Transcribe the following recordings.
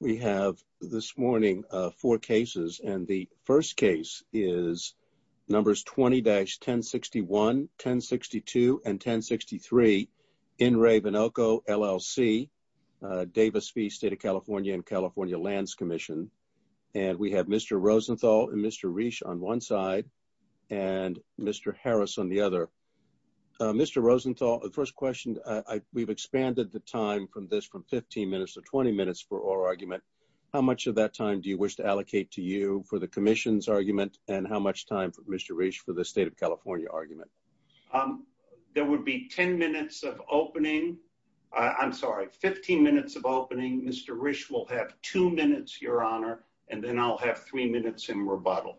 We have this morning four cases, and the first case is numbers 20-1061, 1062, and 1063, In Re Venoco LLC, Davis-Fee State of California and California Lands Commission. And we have Mr. Rosenthal and Mr. Reich on one side, and Mr. Harris on the other. Mr. Rosenthal, the first question, we've expanded the time from this from 15 minutes to 20 minutes for our argument. How much of that time do you wish to allocate to you for the commission's argument, and how much time for Mr. Reich for the State of California argument? There would be 10 minutes of opening. I'm sorry, 15 minutes of opening. Mr. Reich will have two minutes, Your Honor, and then I'll have three minutes in rebuttal.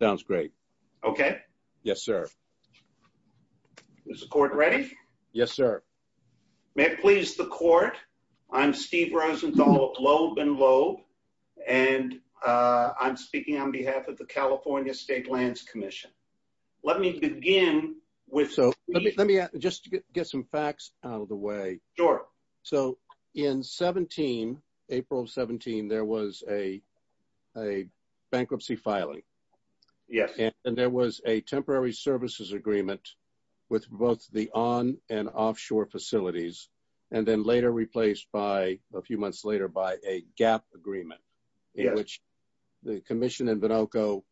Sounds great. Okay. Yes, sir. Is the court ready? Yes, sir. May it please the court, I'm Steve Rosenthal, lobe and lobe, and I'm speaking on behalf of the California State Lands Commission. Let me begin with... So, let me just get some facts out of the way. Sure. So, in 17, April 17, there was a bankruptcy filing. Yes. And there was a temporary services agreement with both the on and offshore facilities, and then later replaced by, a few months later, by a gap agreement. Yes. In which the commission and Vinoco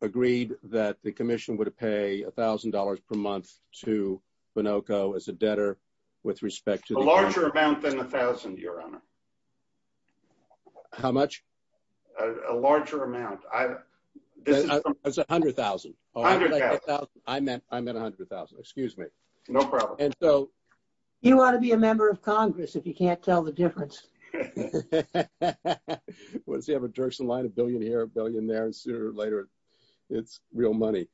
agreed that the commission would pay $1,000 per month to Vinoco as a debtor with respect to... A larger amount than 1,000, Your Honor. How much? A larger amount. It's $100,000. $100,000. I meant $100,000. Excuse me. No problem. And so... You want to be a member of Congress if you can't tell the difference. Once you have a Durson line, a billion here, a billion there, and sooner or later, it's real money.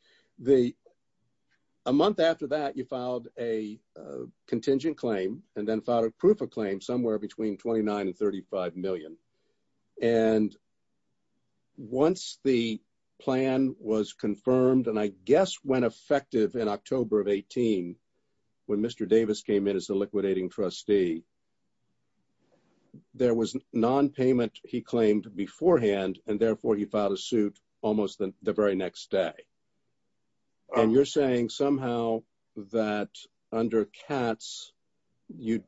A month after that, you filed a contingent claim and then filed a proof of claim somewhere between $29 and $35 million. And once the plan was confirmed, and I guess went effective in October of 18, when Mr. Davis came in as the liquidating trustee, there was nonpayment, he claimed, beforehand, and therefore he filed a suit almost the very next day. And you're saying somehow that under Katz, you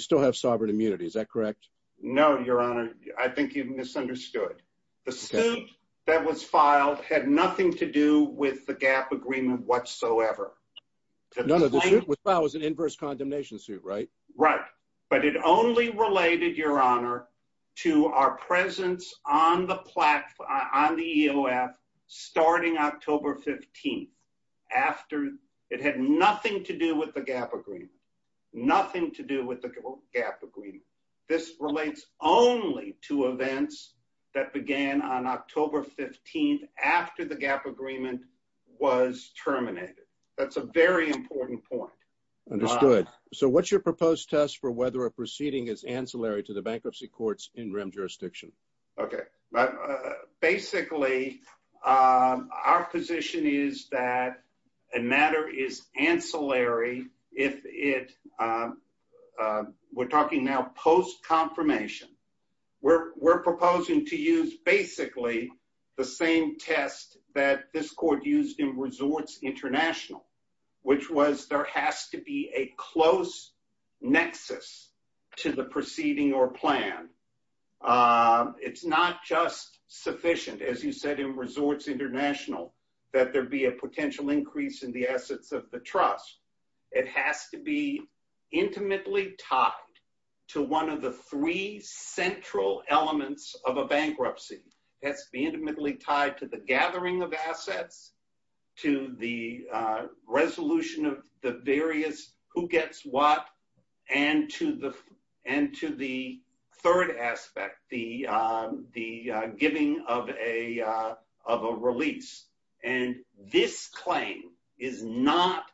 still have sovereign immunity. Is that correct? No, Your Honor. I think you've misunderstood. The suit that was filed had nothing to do with the GAAP agreement whatsoever. No, no, the suit that was filed was an inverse condemnation suit, right? Right. But it only related, Your Honor, to our presence on the EOF starting October 15, after it had nothing to do with the GAAP agreement. Nothing to do with the GAAP agreement. This relates only to events that began on October 15 after the GAAP agreement was terminated. That's a very important point. Understood. Good. So what's your proposed test for whether a proceeding is ancillary to the bankruptcy court's in-rim jurisdiction? Okay. Basically, our position is that a matter is ancillary if it, we're talking now post-confirmation. We're proposing to use basically the same test that this court used in Resorts International, which was there has to be a close nexus to the proceeding or plan. It's not just sufficient, as you said in Resorts International, that there be a potential increase in the assets of the trust. It has to be intimately tied to one of the three central elements of a bankruptcy. It has to be intimately tied to the gathering of assets, to the resolution of the various who gets what, and to the third aspect, the giving of a release. And this claim is not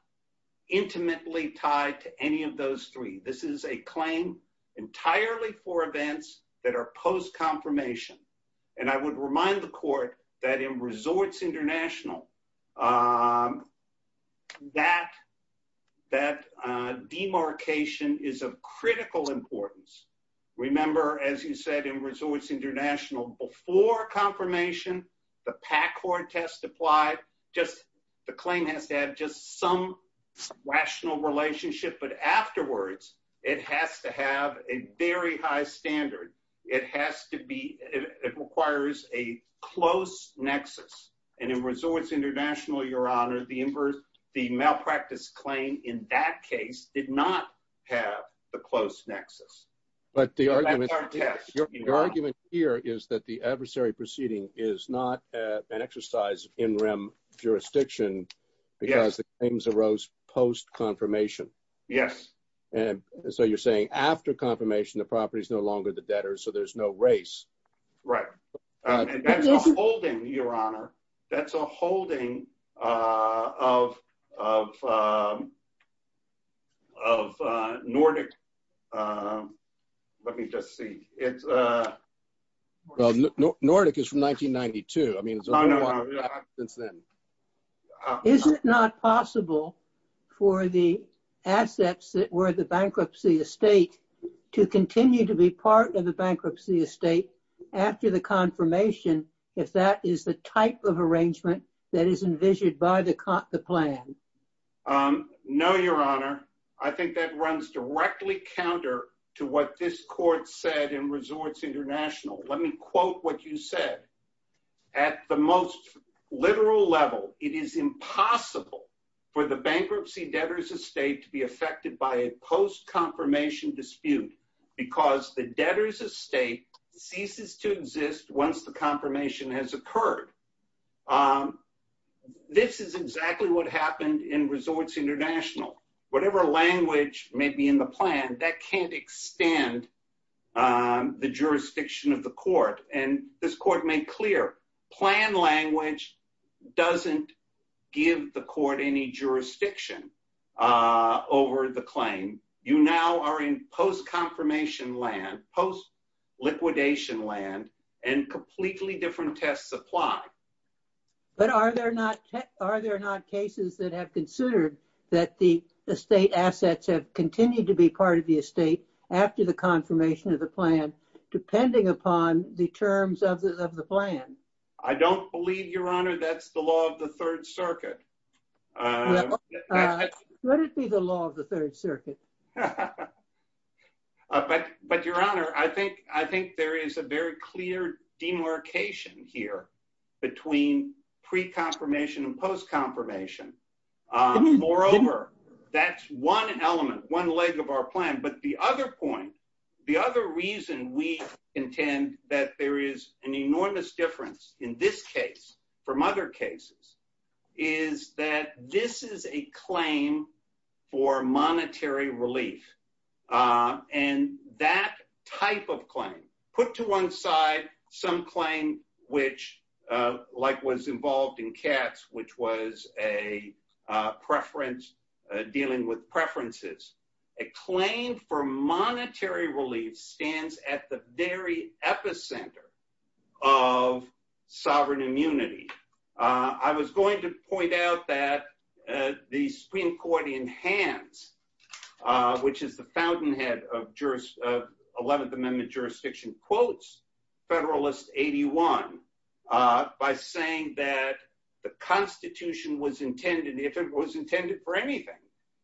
intimately tied to any of those three. This is a claim entirely for events that are post-confirmation. And I would remind the court that in Resorts International, that demarcation is of critical importance. Remember, as you said, in Resorts International, before confirmation, the PAC Court test applied, just the claim has to have just some rational relationship. But afterwards, it has to have a very high standard. It has to be, it requires a close nexus. And in Resorts International, Your Honor, the malpractice claim in that case did not have the close nexus. But the argument here is that the adversary proceeding is not an exercise of in-rem jurisdiction because the claims arose post-confirmation. Yes. And so you're saying after confirmation, the property is no longer the debtor, so there's no race. Right. And that's a holding, Your Honor. That's a holding of Nordic. Let me just see. Well, Nordic is from 1992. I mean, it's only one since then. Is it not possible for the assets that were the bankruptcy estate to continue to be part of the bankruptcy estate after the confirmation, if that is the type of arrangement that is envisioned by the plan? No, Your Honor. I think that runs directly counter to what this court said in Resorts International. Let me quote what you said. At the most literal level, it is impossible for the bankruptcy debtor's estate to be affected by a post-confirmation dispute because the debtor's estate ceases to exist once the confirmation has occurred. This is exactly what happened in Resorts International. Whatever language may be in the plan, that can't extend the jurisdiction of the court. And this court made clear, plan language doesn't give the court any jurisdiction over the claim. You now are in post-confirmation land, post-liquidation land, and completely different tests apply. But are there not cases that have considered that the estate assets have continued to be part of the estate after the confirmation of the plan, depending upon the terms of the plan? I don't believe, Your Honor, that's the law of the Third Circuit. Let it be the law of the Third Circuit. But, Your Honor, I think there is a very clear demarcation here between pre-confirmation and post-confirmation. Moreover, that's one element, one leg of our plan. But the other point, the other reason we intend that there is an enormous difference in this case from other cases is that this is a claim for monetary relief. And that type of claim, put to one side some claim which, like was involved in Katz, which was a preference, dealing with preferences. A claim for monetary relief stands at the very epicenter of sovereign immunity. I was going to point out that the Supreme Court in Hans, which is the fountainhead of 11th Amendment jurisdiction, quotes Federalist 81 by saying that the Constitution was intended, if it was intended for anything,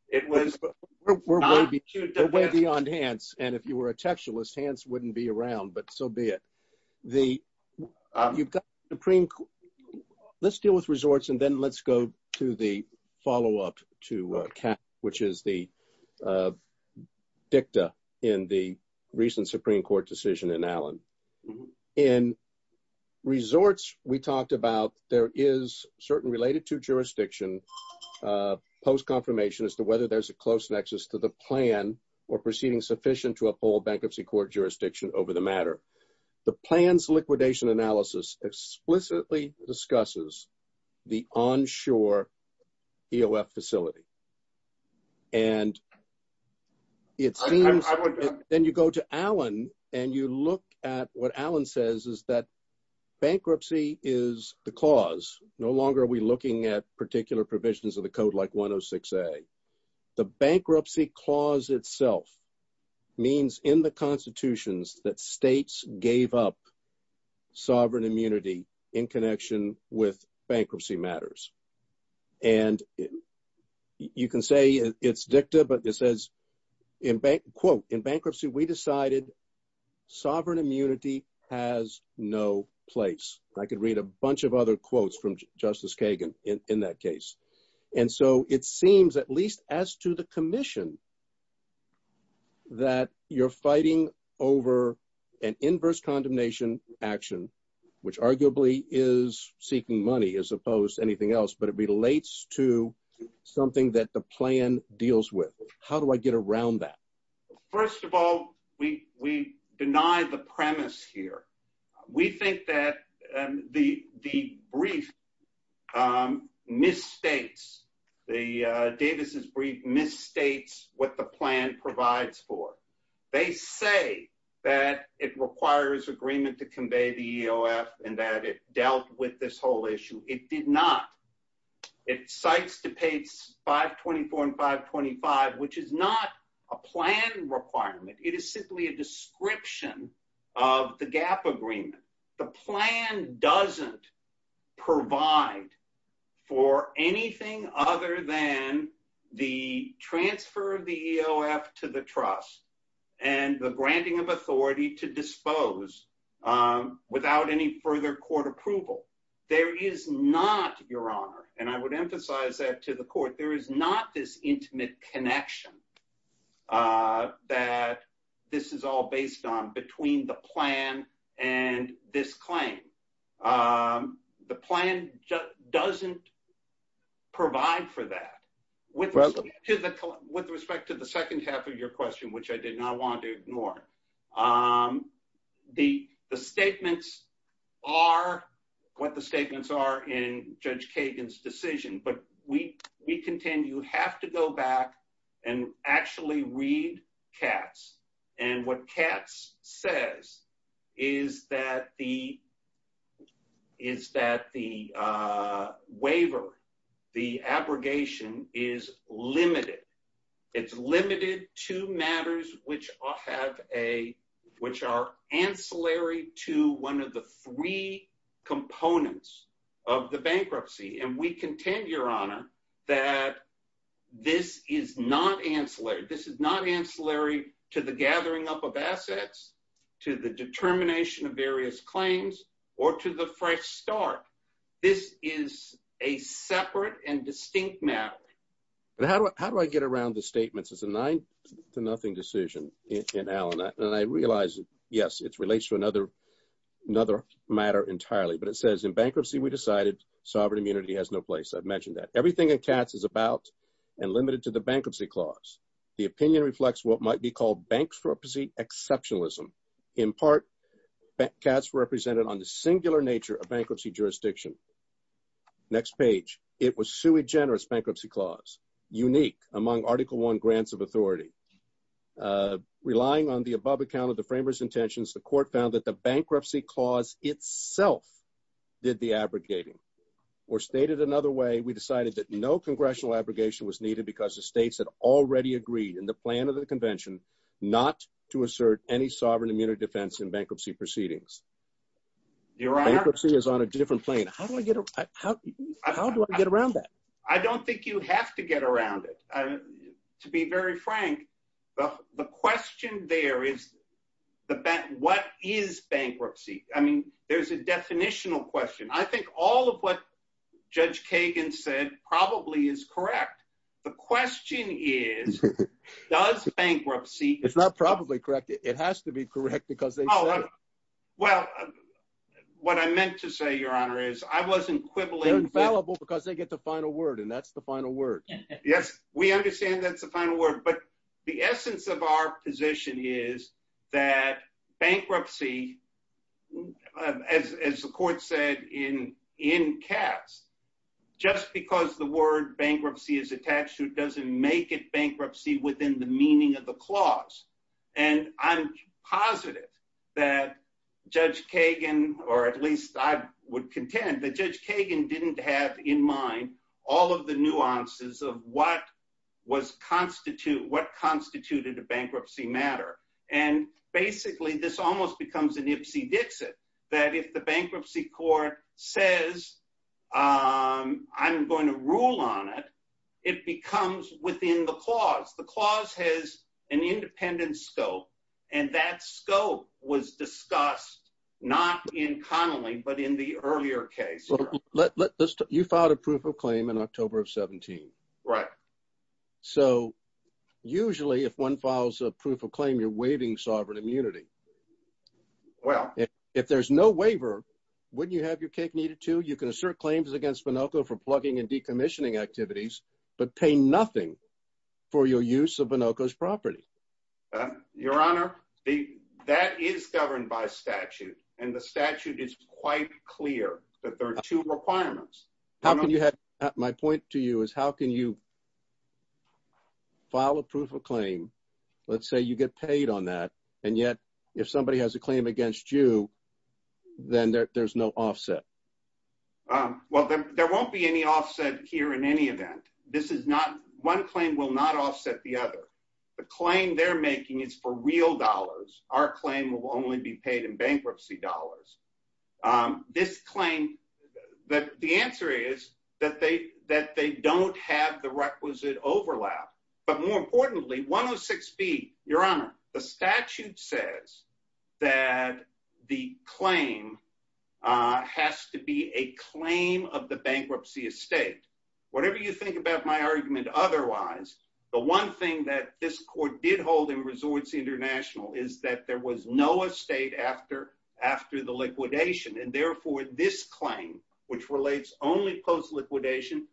it was not— We're way beyond Hans. And if you were a textualist, Hans wouldn't be around, but so be it. Let's deal with resorts and then let's go to the follow-up to Katz, which is the dicta in the recent Supreme Court decision in Allen. In resorts, we talked about there is certain related to jurisdiction post-confirmation as to whether there's a close nexus to the plan or proceeding sufficient to uphold bankruptcy court jurisdiction over the matter. The plans liquidation analysis explicitly discusses the onshore EOF facility. And it seems— I would— —gave up sovereign immunity in connection with bankruptcy matters. And you can say it's dicta, but it says, quote, in bankruptcy, we decided sovereign immunity has no place. I could read a bunch of other quotes from Justice Kagan in that case. And so it seems, at least as to the commission, that you're fighting over an inverse condemnation action, which arguably is seeking money as opposed to anything else, but it relates to something that the plan deals with. How do I get around that? First of all, we deny the premise here. We think that the brief misstates—Davis' brief misstates what the plan provides for. They say that it requires agreement to convey the EOF and that it dealt with this whole issue. It did not. It cites to page 524 and 525, which is not a plan requirement. It is simply a description of the GAAP agreement. The plan doesn't provide for anything other than the transfer of the EOF to the trust and the granting of authority to dispose without any further court approval. There is not, Your Honor, and I would emphasize that to the court, there is not this intimate connection that this is all based on between the plan and this claim. The plan doesn't provide for that. With respect to the second half of your question, which I did not want to ignore, the statements are what the statements are in Judge Kagan's decision, but we contend you have to go back and actually read Katz. What Katz says is that the waiver, the abrogation, is limited. It's limited to matters which are ancillary to one of the three components of the bankruptcy. We contend, Your Honor, that this is not ancillary. This is not ancillary to the gathering up of assets, to the determination of various claims, or to the fresh start. This is a separate and distinct matter. How do I get around the statements? It's a nine to nothing decision in Allen. I realize, yes, it relates to another matter entirely, but it says in bankruptcy we decided sovereign immunity has no place. I've mentioned that. Everything in Katz is about and limited to the bankruptcy clause. The opinion reflects what might be called bankruptcy exceptionalism. In part, Katz represented on the singular nature of bankruptcy jurisdiction. Next page. It was sui generis bankruptcy clause, unique among Article I grants of authority. Relying on the above account of the framers' intentions, the court found that the bankruptcy clause itself did the abrogating. Or stated another way, we decided that no congressional abrogation was needed because the states had already agreed in the plan of the convention not to assert any sovereign immunity defense in bankruptcy proceedings. Bankruptcy is on a different plane. How do I get around that? I don't think you have to get around it. To be very frank, the question there is, what is bankruptcy? I mean, there's a definitional question. I think all of what Judge Kagan said probably is correct. The question is, does bankruptcy It's not probably correct. It has to be correct because they said it. Well, what I meant to say, Your Honor, is I wasn't quibbling. They're infallible because they get the final word, and that's the final word. Yes, we understand that's the final word. But the essence of our position is that bankruptcy, as the court said in Katz, just because the word bankruptcy is attached to it doesn't make it bankruptcy within the meaning of the clause. And I'm positive that Judge Kagan, or at least I would contend, that Judge Kagan didn't have in mind all of the nuances of what constituted a bankruptcy matter. And basically, this almost becomes an Ipsy Dixit, that if the bankruptcy court says, I'm going to rule on it, it becomes within the clause. The clause has an independent scope, and that scope was discussed not in Connolly, but in the earlier case. You filed a proof of claim in October of 17. Right. So usually, if one files a proof of claim, you're waiving sovereign immunity. Well. If there's no waiver, wouldn't you have your cake kneaded, too? You can assert claims against Binocco for plugging and decommissioning activities, but pay nothing for your use of Binocco's property. Your Honor, that is governed by statute, and the statute is quite clear that there are two requirements. My point to you is, how can you file a proof of claim, let's say you get paid on that, and yet if somebody has a claim against you, then there's no offset? Well, there won't be any offset here in any event. One claim will not offset the other. The claim they're making is for real dollars. Our claim will only be paid in bankruptcy dollars. This claim, the answer is that they don't have the requisite overlap. But more importantly, 106B, Your Honor, the statute says that the claim has to be a claim of the bankruptcy estate. Whatever you think about my argument otherwise, the one thing that this court did hold in Resorts International is that there was no estate after the liquidation. And therefore, this claim, which relates only post-liquidation,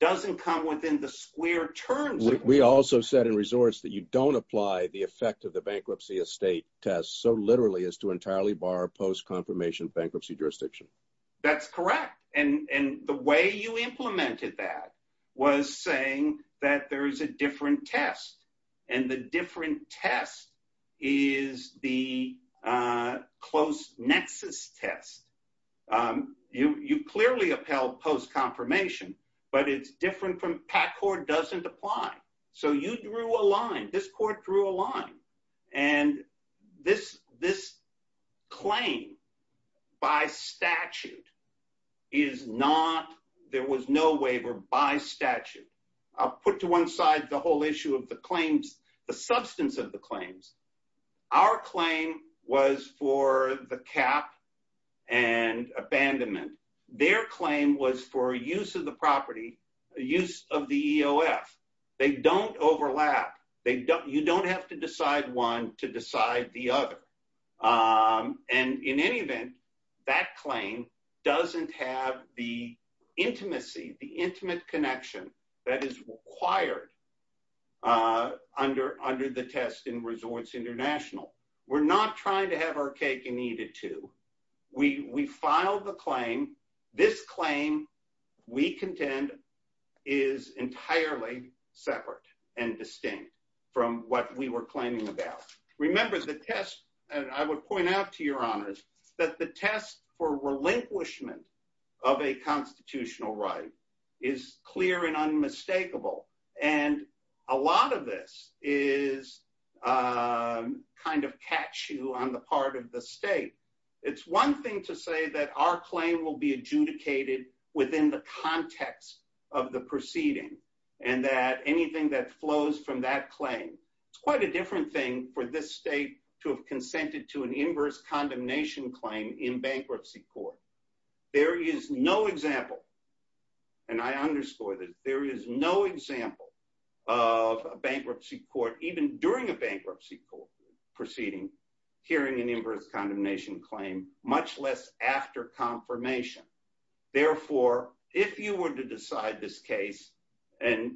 doesn't come within the square terms of it. We also said in Resorts that you don't apply the effect of the bankruptcy estate test so literally as to entirely bar post-confirmation bankruptcy jurisdiction. That's correct. And the way you implemented that was saying that there is a different test. And the different test is the close nexus test. You clearly upheld post-confirmation, but it's different from PACCOR doesn't apply. So you drew a line. This court drew a line. And this claim by statute is not, there was no waiver by statute. I'll put to one side the whole issue of the claims, the substance of the claims. Our claim was for the cap and abandonment. Their claim was for use of the property, use of the EOF. They don't overlap. You don't have to decide one to decide the other. And in any event, that claim doesn't have the intimacy, the intimate connection that is required under the test in Resorts International. We're not trying to have our cake and eat it too. We filed the claim. This claim, we contend, is entirely separate and distinct from what we were claiming about. Remember, the test, and I would point out to your honors, that the test for relinquishment of a constitutional right is clear and unmistakable. And a lot of this is kind of catch you on the part of the state. It's one thing to say that our claim will be adjudicated within the context of the proceeding. And that anything that flows from that claim, it's quite a different thing for this state to have consented to an inverse condemnation claim in bankruptcy court. There is no example, and I underscore this, there is no example of a bankruptcy court, even during a bankruptcy proceeding, hearing an inverse condemnation claim, much less after confirmation. Therefore, if you were to decide this case and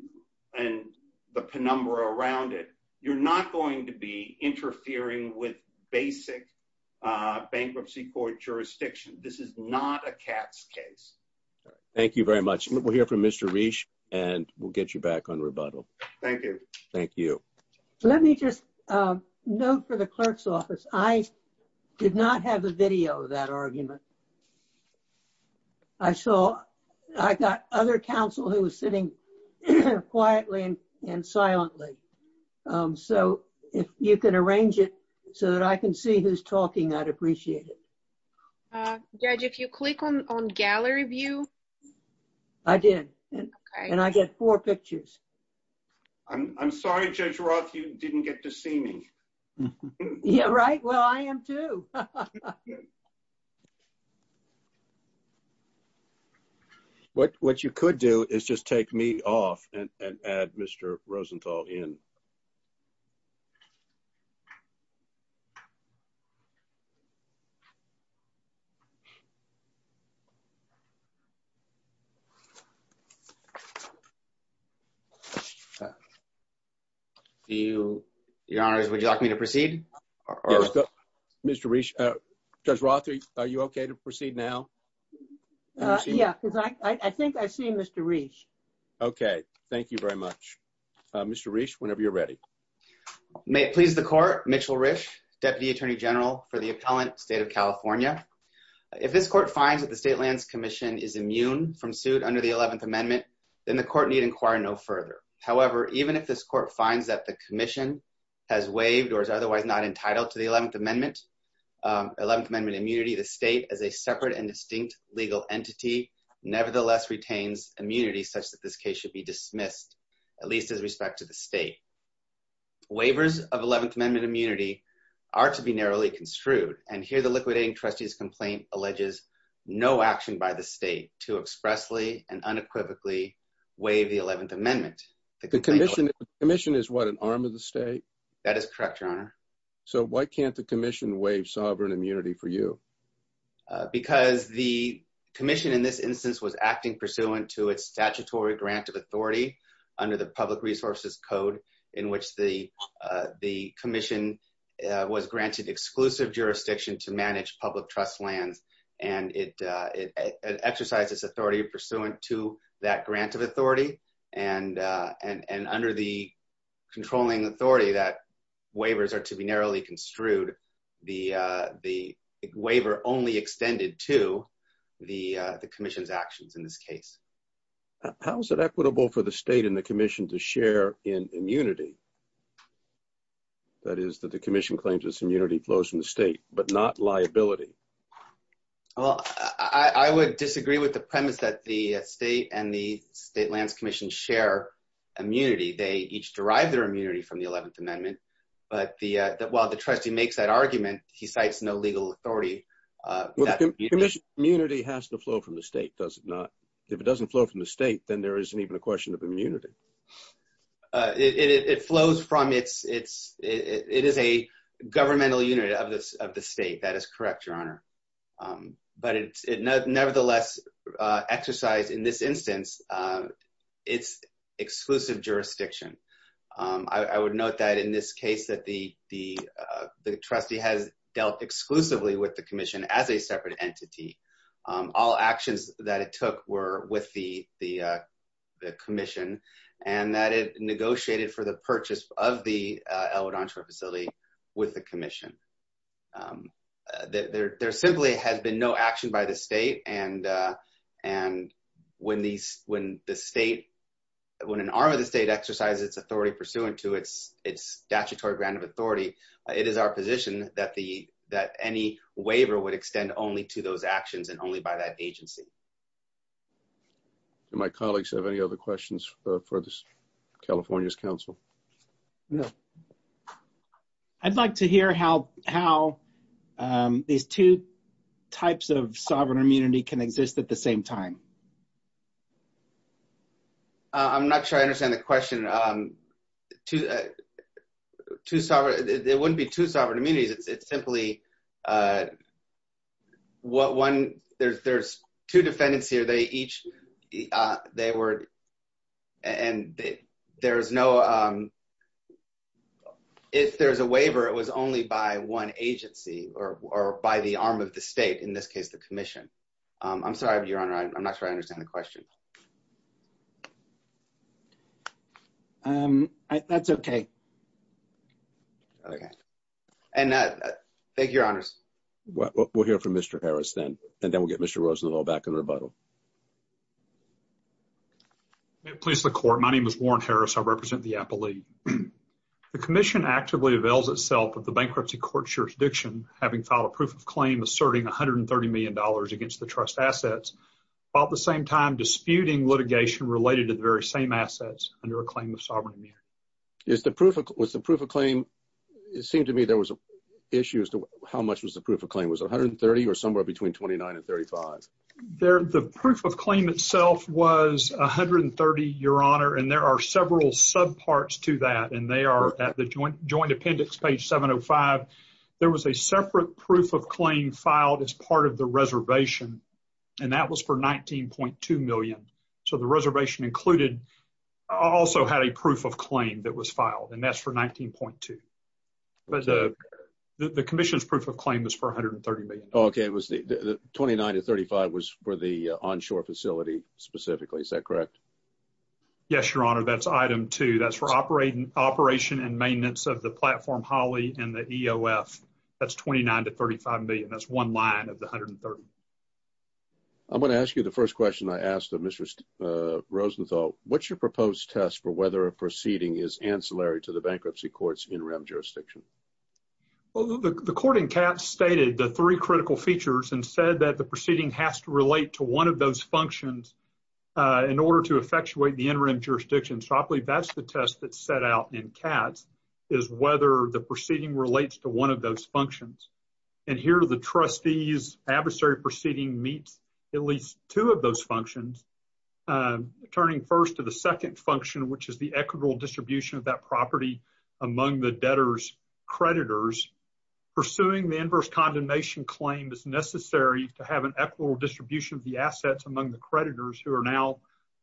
the penumbra around it, you're not going to be interfering with basic bankruptcy court jurisdiction. This is not a cat's case. Thank you very much. We'll hear from Mr. Reish, and we'll get you back on rebuttal. Thank you. Thank you. Let me just note for the clerk's office, I did not have a video of that argument. I saw, I got other counsel who was sitting quietly and silently. So if you can arrange it so that I can see who's talking, I'd appreciate it. Judge, if you click on gallery view. I did. And I get four pictures. I'm sorry, Judge Roth, you didn't get to see me. Yeah, right. Well, I am too. What you could do is just take me off and add Mr. Rosenthal in. Your Honor, would you like me to proceed? Mr. Reish, Judge Roth, are you okay to proceed now? Yeah, because I think I see Mr. Reish. Okay, thank you very much. Mr. Reish, whenever you're ready. May it please the court, Mitchell Reish, Deputy Attorney General for the appellant, State of California. If this court finds that the State Lands Commission is immune from suit under the 11th Amendment, then the court need inquire no further. However, even if this court finds that the commission has waived or is otherwise not entitled to the 11th Amendment, 11th Amendment immunity, the state, as a separate and distinct legal entity, nevertheless retains immunity such that this case should be dismissed, at least as respect to the state. Waivers of 11th Amendment immunity are to be narrowly construed, and here the liquidating trustee's complaint alleges no action by the state to expressly and unequivocally waive the 11th Amendment. The commission is what, an arm of the state? That is correct, Your Honor. So why can't the commission waive sovereign immunity for you? Because the commission in this instance was acting pursuant to its statutory grant of authority under the Public Resources Code, in which the commission was granted exclusive jurisdiction to manage public trust lands, and it exercised its authority pursuant to that grant of authority. And under the controlling authority that waivers are to be narrowly construed, the waiver only extended to the commission's actions in this case. How is it equitable for the state and the commission to share in immunity? That is, that the commission claims its immunity flows from the state, but not liability. Well, I would disagree with the premise that the state and the State Lands Commission share immunity. They each derive their immunity from the 11th Amendment, but while the trustee makes that argument, he cites no legal authority. Well, the commission's immunity has to flow from the state, does it not? If it doesn't flow from the state, then there isn't even a question of immunity. It flows from its, it is a governmental unit of the state, that is correct, Your Honor. But it nevertheless exercised in this instance its exclusive jurisdiction. I would note that in this case that the trustee has dealt exclusively with the commission as a separate entity. All actions that it took were with the commission, and that it negotiated for the purchase of the El Vedantro facility with the commission. There simply has been no action by the state, and when the state, when an arm of the state exercises its authority pursuant to its statutory grant of authority, it is our position that any waiver would extend only to those actions and only by that agency. Do my colleagues have any other questions for California's counsel? No. I'd like to hear how these two types of sovereign immunity can exist at the same time. I'm not sure I understand the question. Two sovereign, there wouldn't be two sovereign immunities. It's simply what one, there's two defendants here. They each, they were, and there's no, if there's a waiver, it was only by one agency or by the arm of the state. In this case, the commission. I'm sorry, Your Honor. I'm not sure I understand the question. That's okay. Okay. And thank you, Your Honors. We'll hear from Mr. Harris then, and then we'll get Mr. Rosenthal back in rebuttal. May it please the court. My name is Warren Harris. I represent the Apple League. The commission actively avails itself of the bankruptcy court's jurisdiction, having filed a proof of claim asserting $130 million against the trust assets, while at the same time disputing litigation related to the very same assets under a claim of sovereign immunity. Was the proof of claim, it seemed to me there was an issue as to how much was the proof of claim. Was it 130 or somewhere between 29 and 35? The proof of claim itself was 130, Your Honor, and there are several subparts to that, and they are at the joint appendix, page 705. There was a separate proof of claim filed as part of the reservation, and that was for $19.2 million. So the reservation included also had a proof of claim that was filed, and that's for $19.2. But the commission's proof of claim was for $130 million. OK, it was the 29 to 35 was for the onshore facility specifically, is that correct? Yes, Your Honor. That's item two. That's for operating operation and maintenance of the platform, Holly, and the EOF. That's $29 to $35 million. That's one line of the $130 million. I'm going to ask you the first question I asked of Mr. Rosenthal. What's your proposed test for whether a proceeding is ancillary to the bankruptcy court's interim jurisdiction? Well, the court in Katz stated the three critical features and said that the proceeding has to relate to one of those functions in order to effectuate the interim jurisdiction. So I believe that's the test that's set out in Katz is whether the proceeding relates to one of those functions. And here the trustee's adversary proceeding meets at least two of those functions, turning first to the second function, which is the equitable distribution of that property among the debtor's creditors. Pursuing the inverse condemnation claim is necessary to have an equitable distribution of the assets among the creditors who are now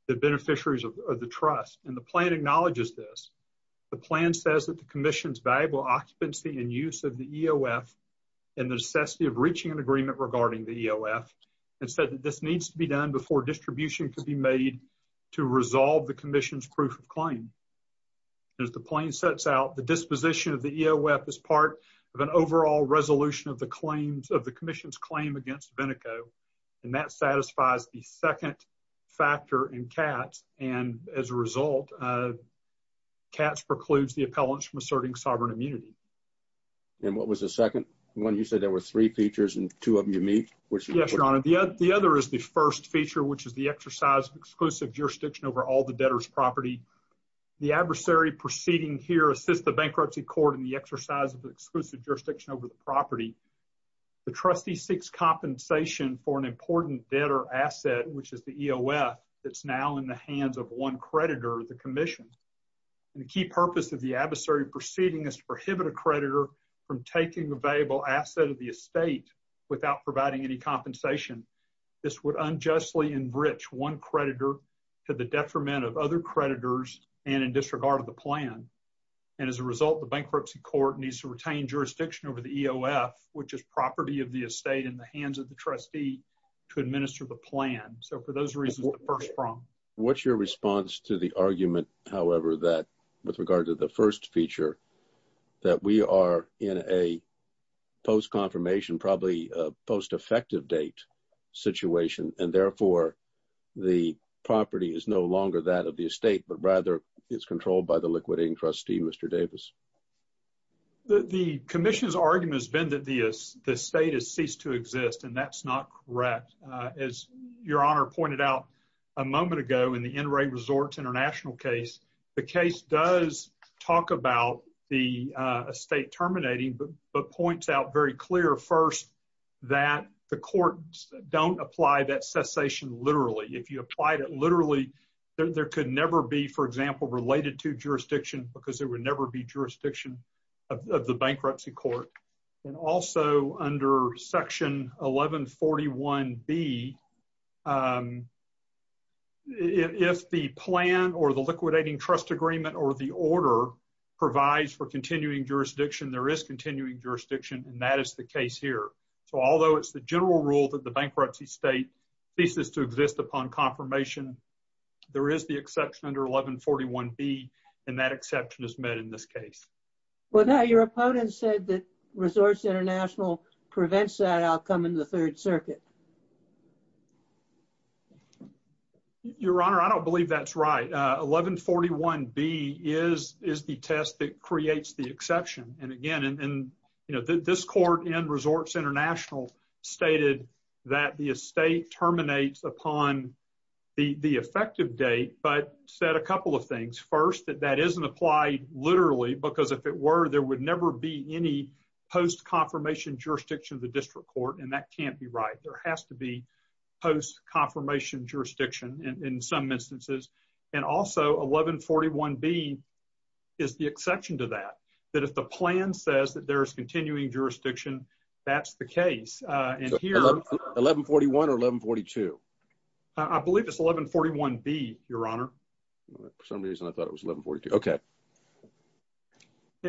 the beneficiaries of the trust. And the plan acknowledges this. The plan says that the commission's valuable occupancy and use of the EOF and the necessity of reaching an agreement regarding the EOF and said that this needs to be done before distribution could be made to resolve the commission's proof of claim. As the plan sets out, the disposition of the EOF is part of an overall resolution of the claims of the commission's claim against Vinico. And that satisfies the second factor in Katz. And as a result, Katz precludes the appellants from asserting sovereign immunity. And what was the second one? You said there were three features and two of them unique. Yes, Your Honor. The other is the first feature, which is the exercise of exclusive jurisdiction over all the debtor's property. The adversary proceeding here assists the bankruptcy court in the exercise of the exclusive jurisdiction over the property. The trustee seeks compensation for an important debtor asset, which is the EOF that's now in the hands of one creditor, the commission. And the key purpose of the adversary proceeding is to prohibit a creditor from taking the valuable asset of the estate without providing any compensation. This would unjustly enrich one creditor to the detriment of other creditors and in disregard of the plan. And as a result, the bankruptcy court needs to retain jurisdiction over the EOF, which is property of the estate in the hands of the trustee to administer the plan. So for those reasons, the first from what's your response to the argument, however, that with regard to the first feature that we are in a post confirmation, probably post effective date situation. And therefore, the property is no longer that of the estate, but rather it's controlled by the liquidating trustee, Mr. Davis. The commission's argument has been that the estate has ceased to exist, and that's not correct. As Your Honor pointed out a moment ago in the NRA Resorts International case, the case does talk about the estate terminating, but points out very clear first that the courts don't apply that cessation literally. If you applied it literally, there could never be, for example, related to jurisdiction because there would never be jurisdiction of the bankruptcy court. And also under Section 1141B, if the plan or the liquidating trust agreement or the order provides for continuing jurisdiction, there is continuing jurisdiction, and that is the case here. So although it's the general rule that the bankruptcy state ceases to exist upon confirmation, there is the exception under 1141B, and that exception is met in this case. Well, now your opponent said that Resorts International prevents that outcome in the Third Circuit. Your Honor, I don't believe that's right. 1141B is the test that creates the exception. And again, this court in Resorts International stated that the estate terminates upon the effective date, but said a couple of things. First, that that isn't applied literally, because if it were, there would never be any post-confirmation jurisdiction of the district court, and that can't be right. There has to be post-confirmation jurisdiction in some instances. And also, 1141B is the exception to that, that if the plan says that there is continuing jurisdiction, that's the case. 1141 or 1142? I believe it's 1141B, Your Honor. For some reason, I thought it was 1142. Okay.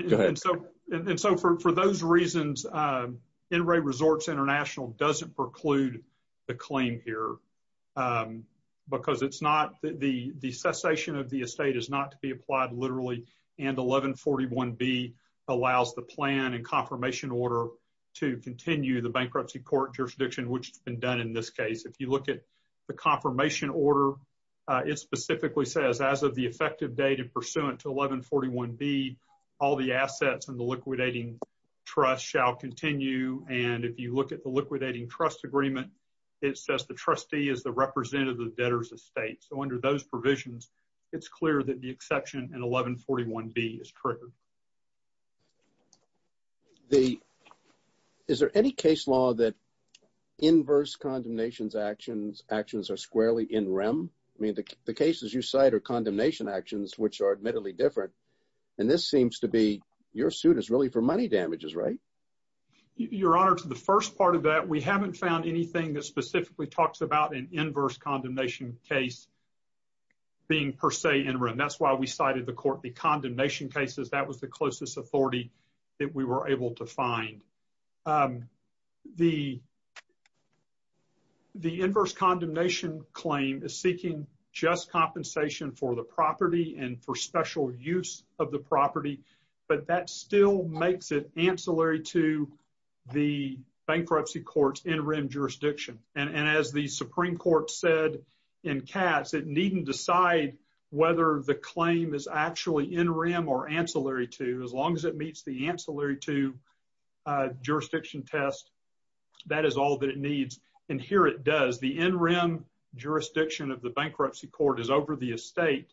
Go ahead. And so for those reasons, NRA Resorts International doesn't preclude the claim here, because it's not, the cessation of the estate is not to be applied literally, and 1141B allows the plan and confirmation order to continue the bankruptcy court jurisdiction, which has been done in this case. If you look at the confirmation order, it specifically says, as of the effective date and pursuant to 1141B, all the assets in the liquidating trust shall continue. And if you look at the liquidating trust agreement, it says the trustee is the representative debtors of state. So under those provisions, it's clear that the exception in 1141B is true. Is there any case law that inverse condemnations actions are squarely in rem? I mean, the cases you cite are condemnation actions, which are admittedly different. And this seems to be, your suit is really for money damages, right? Your Honor, to the first part of that, we haven't found anything that specifically talks about an inverse condemnation case being per se in rem. And that's why we cited the condemnation cases. That was the closest authority that we were able to find. The inverse condemnation claim is seeking just compensation for the property and for special use of the property. But that still makes it ancillary to the bankruptcy court's in rem jurisdiction. And as the Supreme Court said in Katz, it needn't decide whether the claim is actually in rem or ancillary to. As long as it meets the ancillary to jurisdiction test, that is all that it needs. And here it does. The in rem jurisdiction of the bankruptcy court is over the estate.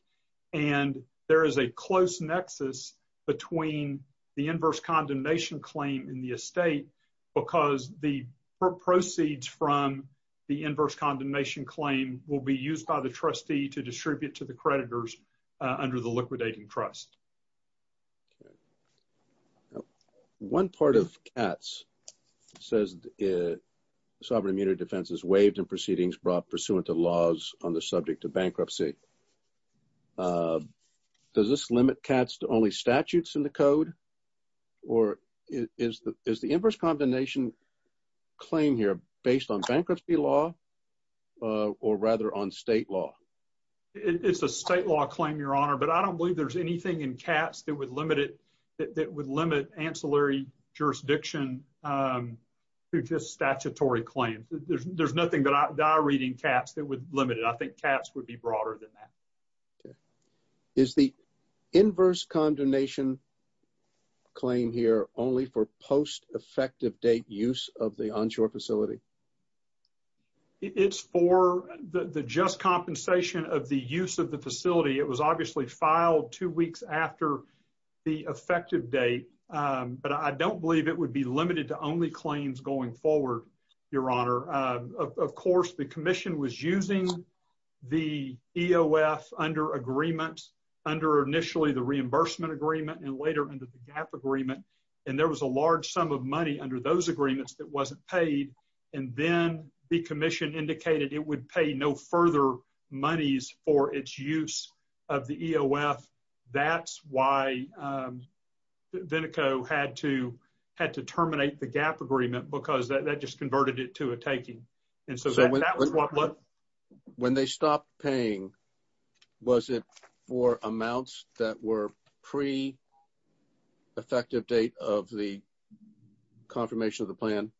And there is a close nexus between the inverse condemnation claim in the estate because the proceeds from the inverse condemnation claim will be used by the trustee to distribute to the creditors under the liquidating trust. One part of Katz says sovereign immunity defense is waived in proceedings brought pursuant to laws on the subject of bankruptcy. Does this limit Katz to only statutes in the code or is the inverse condemnation claim here based on bankruptcy law or rather on state law? It's a state law claim, Your Honor, but I don't believe there's anything in Katz that would limit it, that would limit ancillary jurisdiction to just statutory claims. There's nothing that I read in Katz that would limit it. I think Katz would be broader than that. Is the inverse condemnation claim here only for post effective date use of the onshore facility? It's for the just compensation of the use of the facility. It was obviously filed two weeks after the effective date. But I don't believe it would be limited to only claims going forward, Your Honor. Of course, the commission was using the EOF under agreement under initially the reimbursement agreement and later under the gap agreement. And there was a large sum of money under those agreements that wasn't paid. And then the commission indicated it would pay no further monies for its use of the EOF. That's why Vinico had to had to terminate the gap agreement because that just converted it to a taking. And so that was what when they stopped paying, was it for amounts that were pre effective date of the confirmation of the plan?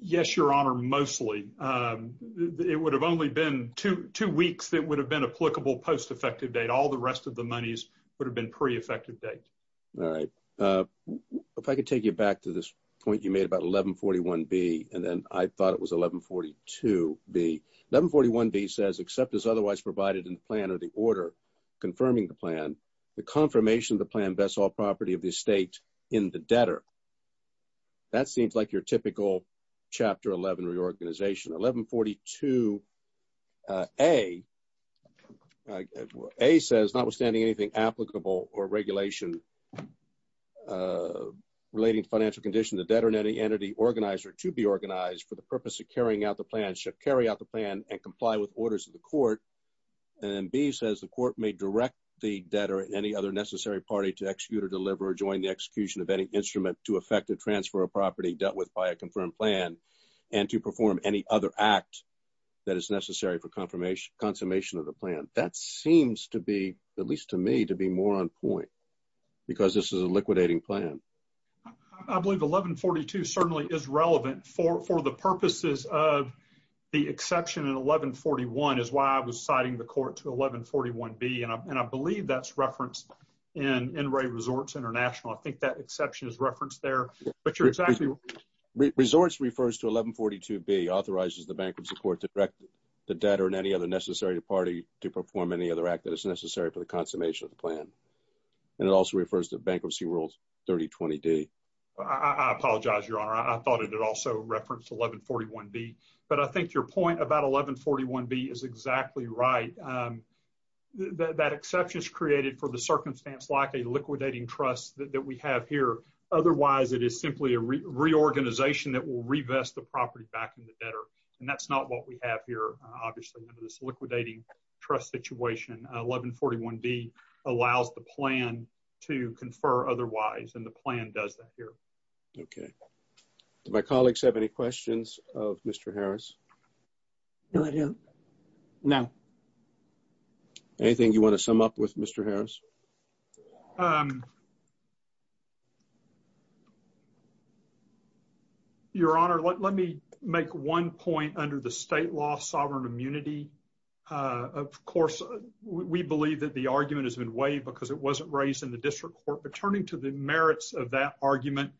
Yes, Your Honor, mostly. It would have only been two weeks that would have been applicable post effective date. All the rest of the monies would have been pre effective date. All right. If I could take you back to this point you made about 1141B and then I thought it was 1142B. 1141B says except as otherwise provided in the plan or the order confirming the plan, the confirmation of the plan bests all property of the estate in the debtor. That seems like your typical Chapter 11 reorganization. 1142A, A says notwithstanding anything applicable or regulation relating to financial condition, the debtor and any entity organized or to be organized for the purpose of carrying out the plan should carry out the plan and comply with orders of the court. And B says the court may direct the debtor and any other necessary party to execute or deliver or join the execution of any instrument to affect the transfer of property dealt with by a confirmed plan and to perform any other act that is necessary for confirmation, confirmation of the plan. That seems to be, at least to me, to be more on point because this is a liquidating plan. I believe 1142 certainly is relevant for the purposes of the exception in 1141 is why I was citing the court to 1141B. And I believe that's referenced in NRA Resorts International. I think that exception is referenced there. Resorts refers to 1142B authorizes the bankruptcy court to direct the debtor and any other necessary party to perform any other act that is necessary for the confirmation of the plan. And it also refers to Bankruptcy Rules 3020D. I apologize, Your Honor. I thought it also referenced 1141B, but I think your point about 1141B is exactly right. That exception is created for the circumstance like a liquidating trust that we have here. Otherwise, it is simply a reorganization that will revest the property back in the debtor. And that's not what we have here, obviously, under this liquidating trust situation. 1141B allows the plan to confer otherwise, and the plan does that here. Okay. Do my colleagues have any questions of Mr. Harris? No, I don't. No. Anything you want to sum up with Mr. Harris? Your Honor, let me make one point under the state law sovereign immunity. Of course, we believe that the argument has been waived because it wasn't raised in the district court. But turning to the merits of that argument,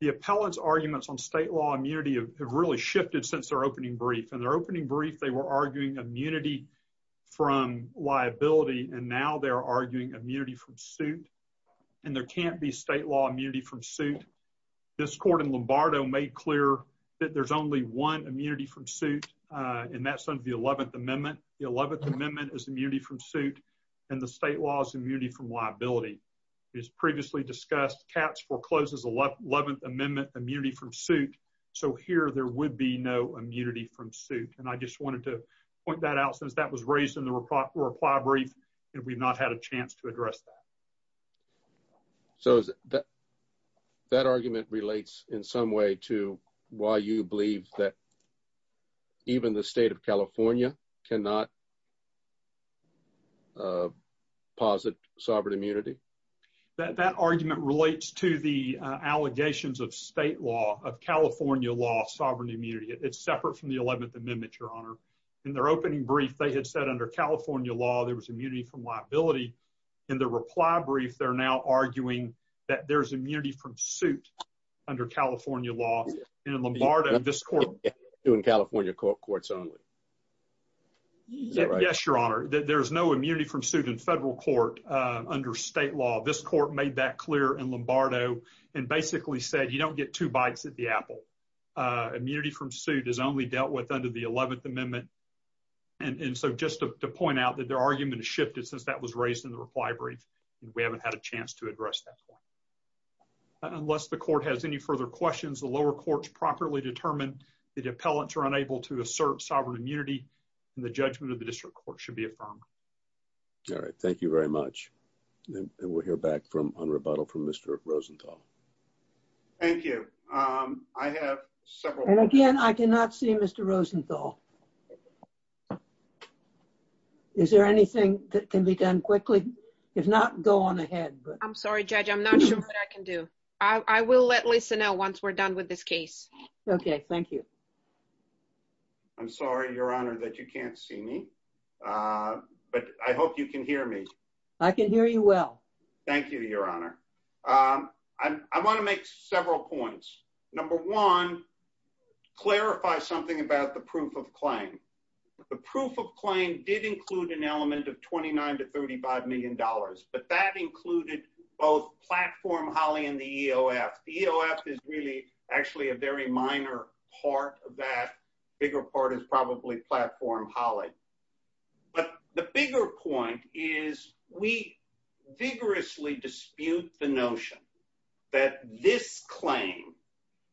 the appellate's arguments on state law immunity have really shifted since their opening brief. In their opening brief, they were arguing immunity from liability, and now they're arguing immunity from suit. And there can't be state law immunity from suit. This court in Lombardo made clear that there's only one immunity from suit, and that's under the 11th Amendment. The 11th Amendment is immunity from suit, and the state law is immunity from liability. As previously discussed, Katz forecloses the 11th Amendment immunity from suit, so here there would be no immunity from suit. And I just wanted to point that out since that was raised in the reply brief, and we've not had a chance to address that. So that argument relates in some way to why you believe that even the state of California cannot posit sovereign immunity? That argument relates to the allegations of state law, of California law sovereign immunity. It's separate from the 11th Amendment, Your Honor. In their opening brief, they had said under California law there was immunity from liability. In the reply brief, they're now arguing that there's immunity from suit under California law. And in Lombardo, this court- In California courts only. Yes, Your Honor. There's no immunity from suit in federal court under state law. This court made that clear in Lombardo and basically said you don't get two bites at the apple. And so just to point out that their argument has shifted since that was raised in the reply brief, and we haven't had a chance to address that point. Unless the court has any further questions, the lower courts properly determine that appellants are unable to assert sovereign immunity, and the judgment of the district court should be affirmed. All right, thank you very much. And we'll hear back on rebuttal from Mr. Rosenthal. Thank you. I have several- And again, I cannot see Mr. Rosenthal. Is there anything that can be done quickly? If not, go on ahead. I'm sorry, Judge, I'm not sure what I can do. I will let Lisa know once we're done with this case. Okay, thank you. I'm sorry, Your Honor, that you can't see me. But I hope you can hear me. I can hear you well. Thank you, Your Honor. I want to make several points. Number one, clarify something about the proof of claim. The proof of claim did include an element of $29 to $35 million, but that included both Platform Holly and the EOF. The EOF is really actually a very minor part of that. The bigger part is probably Platform Holly. But the bigger point is we vigorously dispute the notion that this claim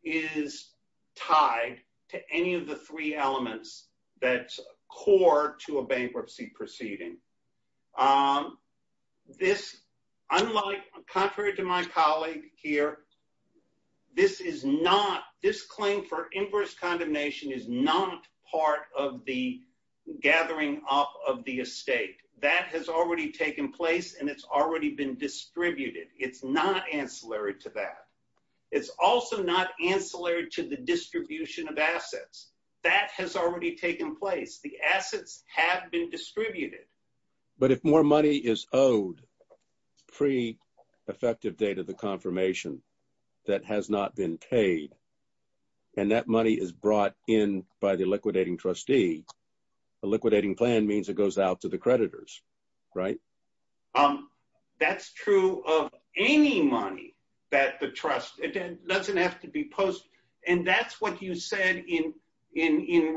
is tied to any of the three elements that's core to a bankruptcy proceeding. This, unlike, contrary to my colleague here, this is not, this claim for inverse condemnation is not part of the gathering up of the estate. That has already taken place, and it's already been distributed. It's not ancillary to that. It's also not ancillary to the distribution of assets. That has already taken place. The assets have been distributed. But if more money is owed pre-effective date of the confirmation that has not been paid, and that money is brought in by the liquidating trustee, the liquidating plan means it goes out to the creditors, right? That's true of any money that the trust doesn't have to be posted. And that's what you said in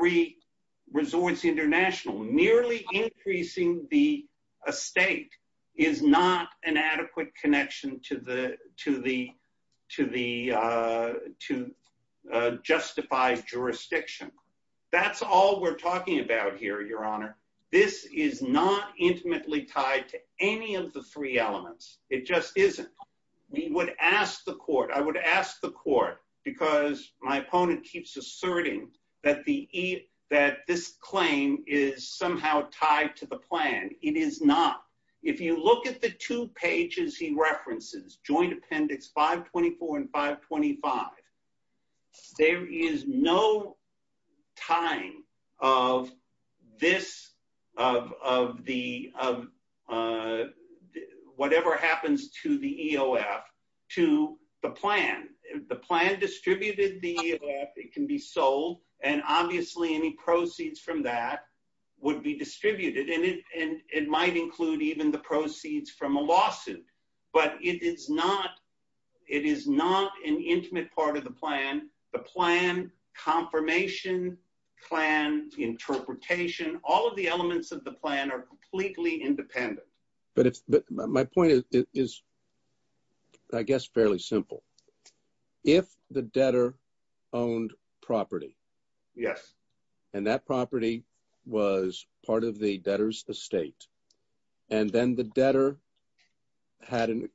Resorts International. Nearly increasing the estate is not an adequate connection to justify jurisdiction. That's all we're talking about here, Your Honor. This is not intimately tied to any of the three elements. It just isn't. We would ask the court, I would ask the court, because my opponent keeps asserting that this claim is somehow tied to the plan. It is not. If you look at the two pages he references, Joint Appendix 524 and 525, there is no tying of this, of whatever happens to the EOF to the plan. The plan distributed the EOF. It can be sold. And obviously any proceeds from that would be distributed. And it might include even the proceeds from a lawsuit. But it is not an intimate part of the plan. The plan, confirmation, plan, interpretation, all of the elements of the plan are completely independent. But my point is, I guess, fairly simple. If the debtor owned property. Yes. And that property was part of the debtor's estate. And then the debtor had an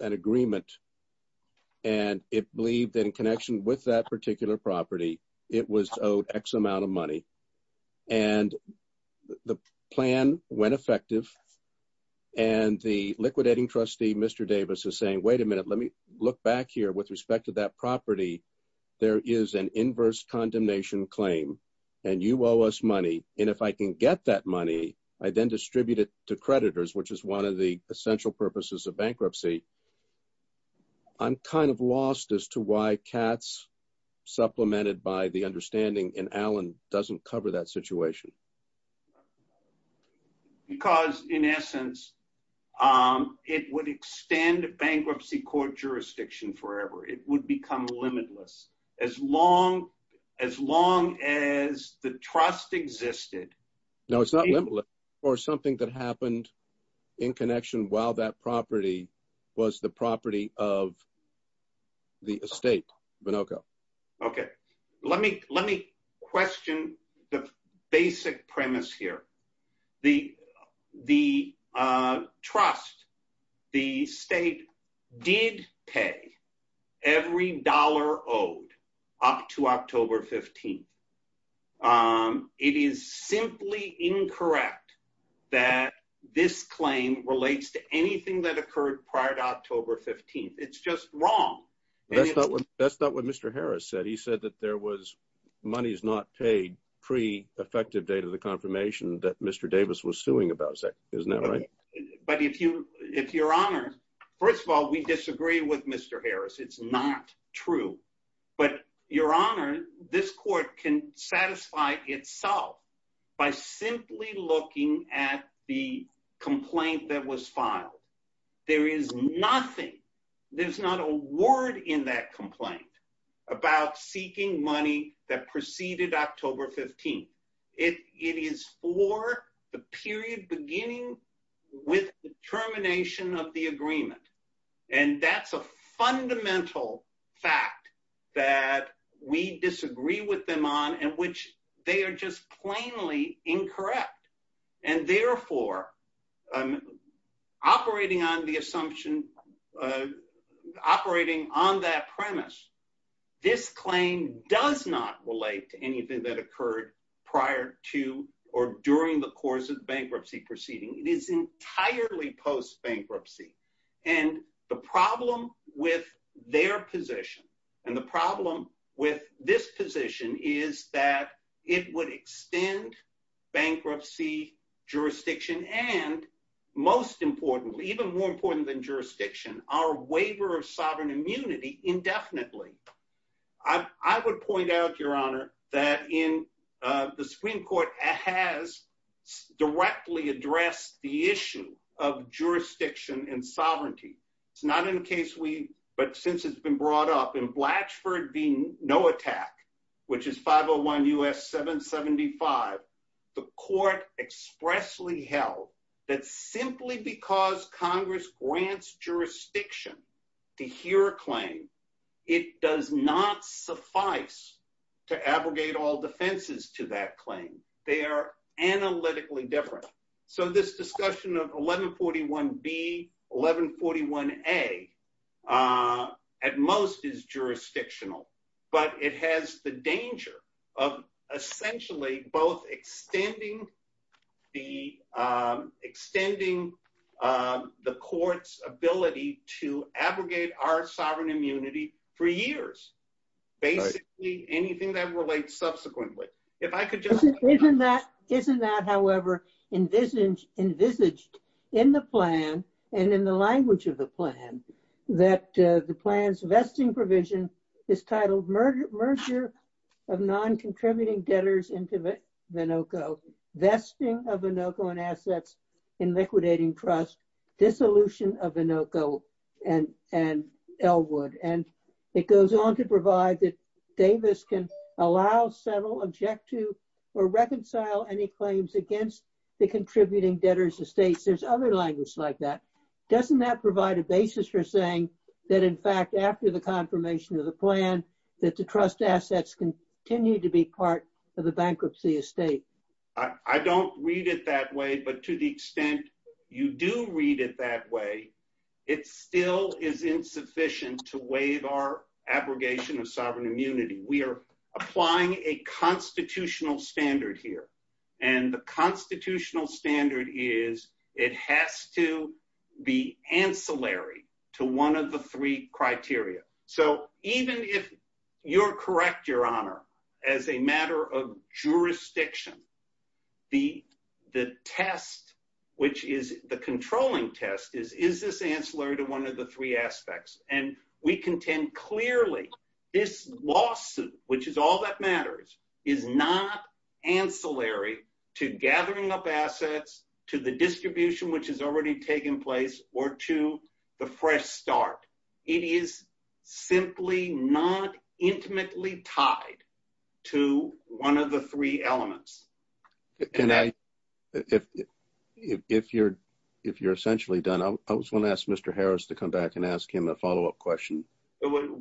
agreement. And it believed that in connection with that particular property, it was owed X amount of money. And the plan went effective. And the liquidating trustee, Mr. Davis, is saying, wait a minute, let me look back here. With respect to that property, there is an inverse condemnation claim. And you owe us money. And if I can get that money, I then distribute it to creditors, which is one of the essential purposes of bankruptcy. I'm kind of lost as to why Katz, supplemented by the understanding in Allen, doesn't cover that situation. Because, in essence, it would extend bankruptcy court jurisdiction forever. It would become limitless. As long as the trust existed. No, it's not limitless. Or something that happened in connection while that property was the property of the estate. Okay. Let me question the basic premise here. The trust, the state, did pay every dollar owed up to October 15th. It is simply incorrect that this claim relates to anything that occurred prior to October 15th. It's just wrong. That's not what Mr. Harris said. He said that there was money is not paid pre-effective date of the confirmation that Mr. Davis was suing about. Isn't that right? But if your honor, first of all, we disagree with Mr. Harris. It's not true. But your honor, this court can satisfy itself by simply looking at the complaint that was filed. There is nothing. There's not a word in that complaint about seeking money that preceded October 15th. It is for the period beginning with the termination of the agreement. And that's a fundamental fact that we disagree with them on, and which they are just plainly incorrect. And therefore, operating on the assumption, operating on that premise, this claim does not relate to anything that occurred prior to or during the course of bankruptcy proceeding. It is entirely post-bankruptcy. And the problem with their position and the problem with this position is that it would extend bankruptcy, jurisdiction, and most importantly, even more important than jurisdiction, our waiver of sovereign immunity indefinitely. I would point out, your honor, that the Supreme Court has directly addressed the issue of jurisdiction and sovereignty. It's not in the case we, but since it's been brought up, in Blatchford v. No Attack, which is 501 U.S. 775, the court expressly held that simply because Congress grants jurisdiction to hear a claim, it does not suffice to abrogate all defenses to that claim. They are analytically different. So this discussion of 1141B, 1141A, at most is jurisdictional, but it has the danger of essentially both extending the court's ability to abrogate our sovereign immunity for years, basically anything that relates subsequently. Isn't that, however, envisaged in the plan and in the language of the plan, that the plan's vesting provision is titled Merger of Non-Contributing Debtors into Vinoco, Vesting of Vinoco and Assets in Liquidating Trust, Dissolution of Vinoco and Elwood. And it goes on to provide that Davis can allow, settle, object to, or reconcile any claims against the contributing debtors' estates. There's other language like that. Doesn't that provide a basis for saying that, in fact, after the confirmation of the plan, that the trust assets continue to be part of the bankruptcy estate? I don't read it that way. But to the extent you do read it that way, it still is insufficient to waive our abrogation of sovereign immunity. We are applying a constitutional standard here. And the constitutional standard is it has to be ancillary to one of the three criteria. So even if you're correct, Your Honor, as a matter of jurisdiction, the test, which is the controlling test is, is this ancillary to one of the three aspects? And we contend clearly this lawsuit, which is all that matters, is not ancillary to gathering up assets, to the distribution, which has already taken place, or to the fresh start. It is simply not intimately tied to one of the three elements. If you're essentially done, I just want to ask Mr. Harris to come back and ask him a follow-up question.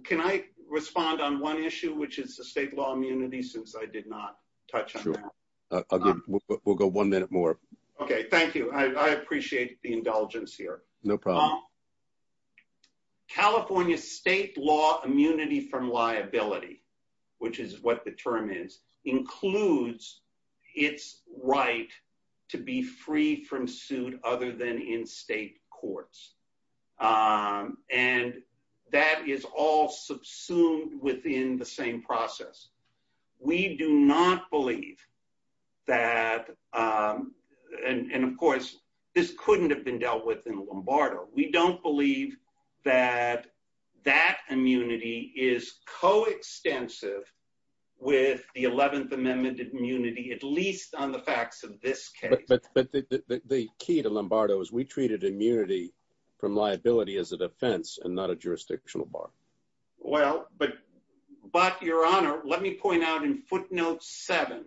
Can I respond on one issue, which is the state law immunity, since I did not touch on that? Sure. We'll go one minute more. Okay. Thank you. I appreciate the indulgence here. No problem. California state law immunity from liability, which is what the term is, includes its right to be free from suit other than in state courts. And that is all subsumed within the same process. We do not believe that, and of course, this couldn't have been dealt with in Lombardo. We don't believe that that immunity is coextensive with the 11th Amendment immunity, at least on the facts of this case. But the key to Lombardo is we treated immunity from liability as a defense and not a jurisdictional bar. But, Your Honor, let me point out in footnote 7,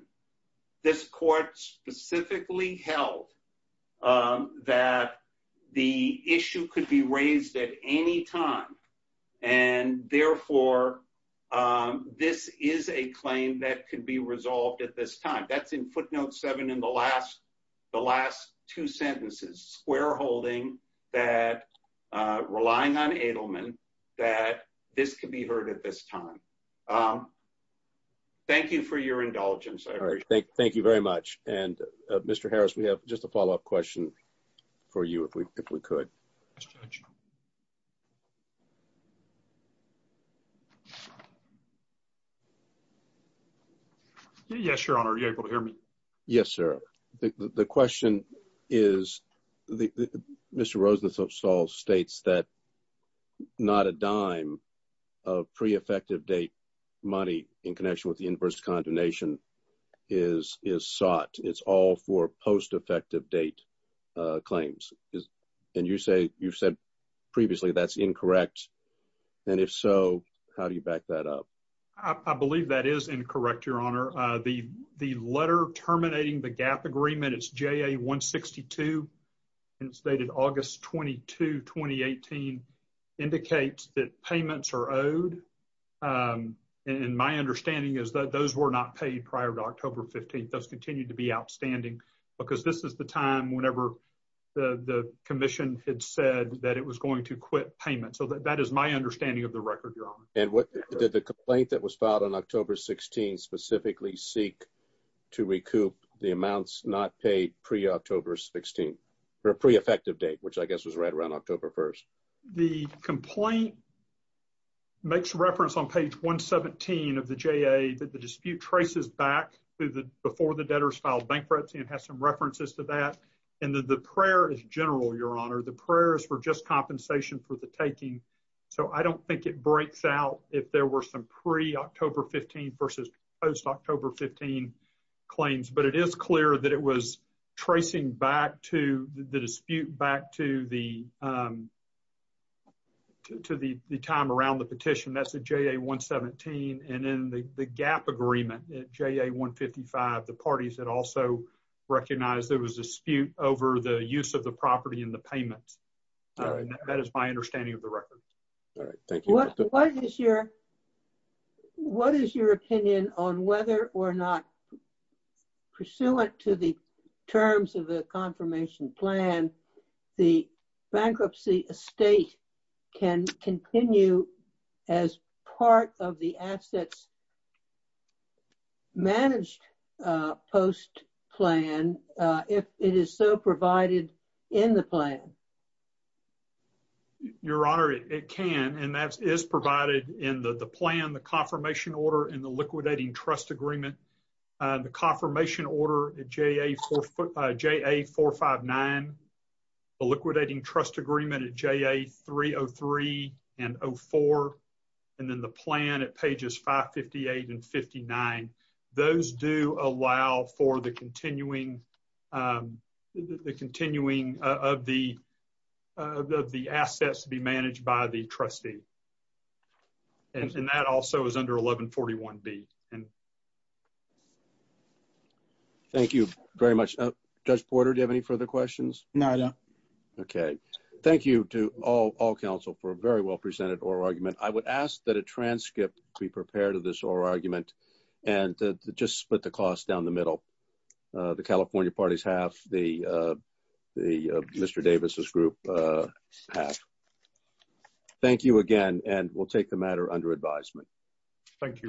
this court specifically held that the issue could be raised at any time, and therefore, this is a claim that could be resolved at this time. That's in footnote 7 in the last two sentences. We're holding that, relying on Adelman, that this could be heard at this time. Thank you for your indulgence. Thank you very much. And, Mr. Harris, we have just a follow-up question for you, if we could. Yes, Your Honor, are you able to hear me? Yes, sir. The question is, Mr. Rosenthal states that not a dime of pre-effective date money in connection with the inverse condemnation is sought. It's all for post-effective date claims. And you've said previously that's incorrect. And if so, how do you back that up? I believe that is incorrect, Your Honor. The letter terminating the GAAP agreement, it's JA-162, and it's dated August 22, 2018, indicates that payments are owed. And my understanding is that those were not paid prior to October 15th. Those continue to be outstanding because this is the time whenever the commission had said that it was going to quit payment. So that is my understanding of the record, Your Honor. And did the complaint that was filed on October 16 specifically seek to recoup the amounts not paid pre-October 16, or pre-effective date, which I guess was right around October 1st? The complaint makes reference on page 117 of the JA that the dispute traces back to before the debtors filed bankruptcy and has some references to that. And the prayer is general, Your Honor. The prayer is for just compensation for the taking. So I don't think it breaks out if there were some pre-October 15 versus post-October 15 claims. But it is clear that it was tracing back to the dispute back to the time around the petition. That's the JA-117. And in the GAAP agreement, JA-155, the parties had also recognized there was a dispute over the use of the property and the payments. That is my understanding of the record. All right. Thank you. What is your opinion on whether or not pursuant to the terms of the confirmation plan, the bankruptcy estate can continue as part of the assets managed post plan if it is so provided in the plan? Your Honor, it can. And that is provided in the plan, the confirmation order, and the liquidating trust agreement. The confirmation order at JA-459, the liquidating trust agreement at JA-303 and 04, and then the plan at pages 558 and 59. Those do allow for the continuing of the assets to be managed by the trustee. And that also is under 1141B. Thank you very much. Judge Porter, do you have any further questions? No, I don't. Okay. Thank you to all counsel for a very well presented oral argument. I would ask that a transcript be prepared of this oral argument and just split the cost down the middle. The California parties have, the Mr. Davis' group have. Thank you again, and we'll take the matter under advisement. Thank you.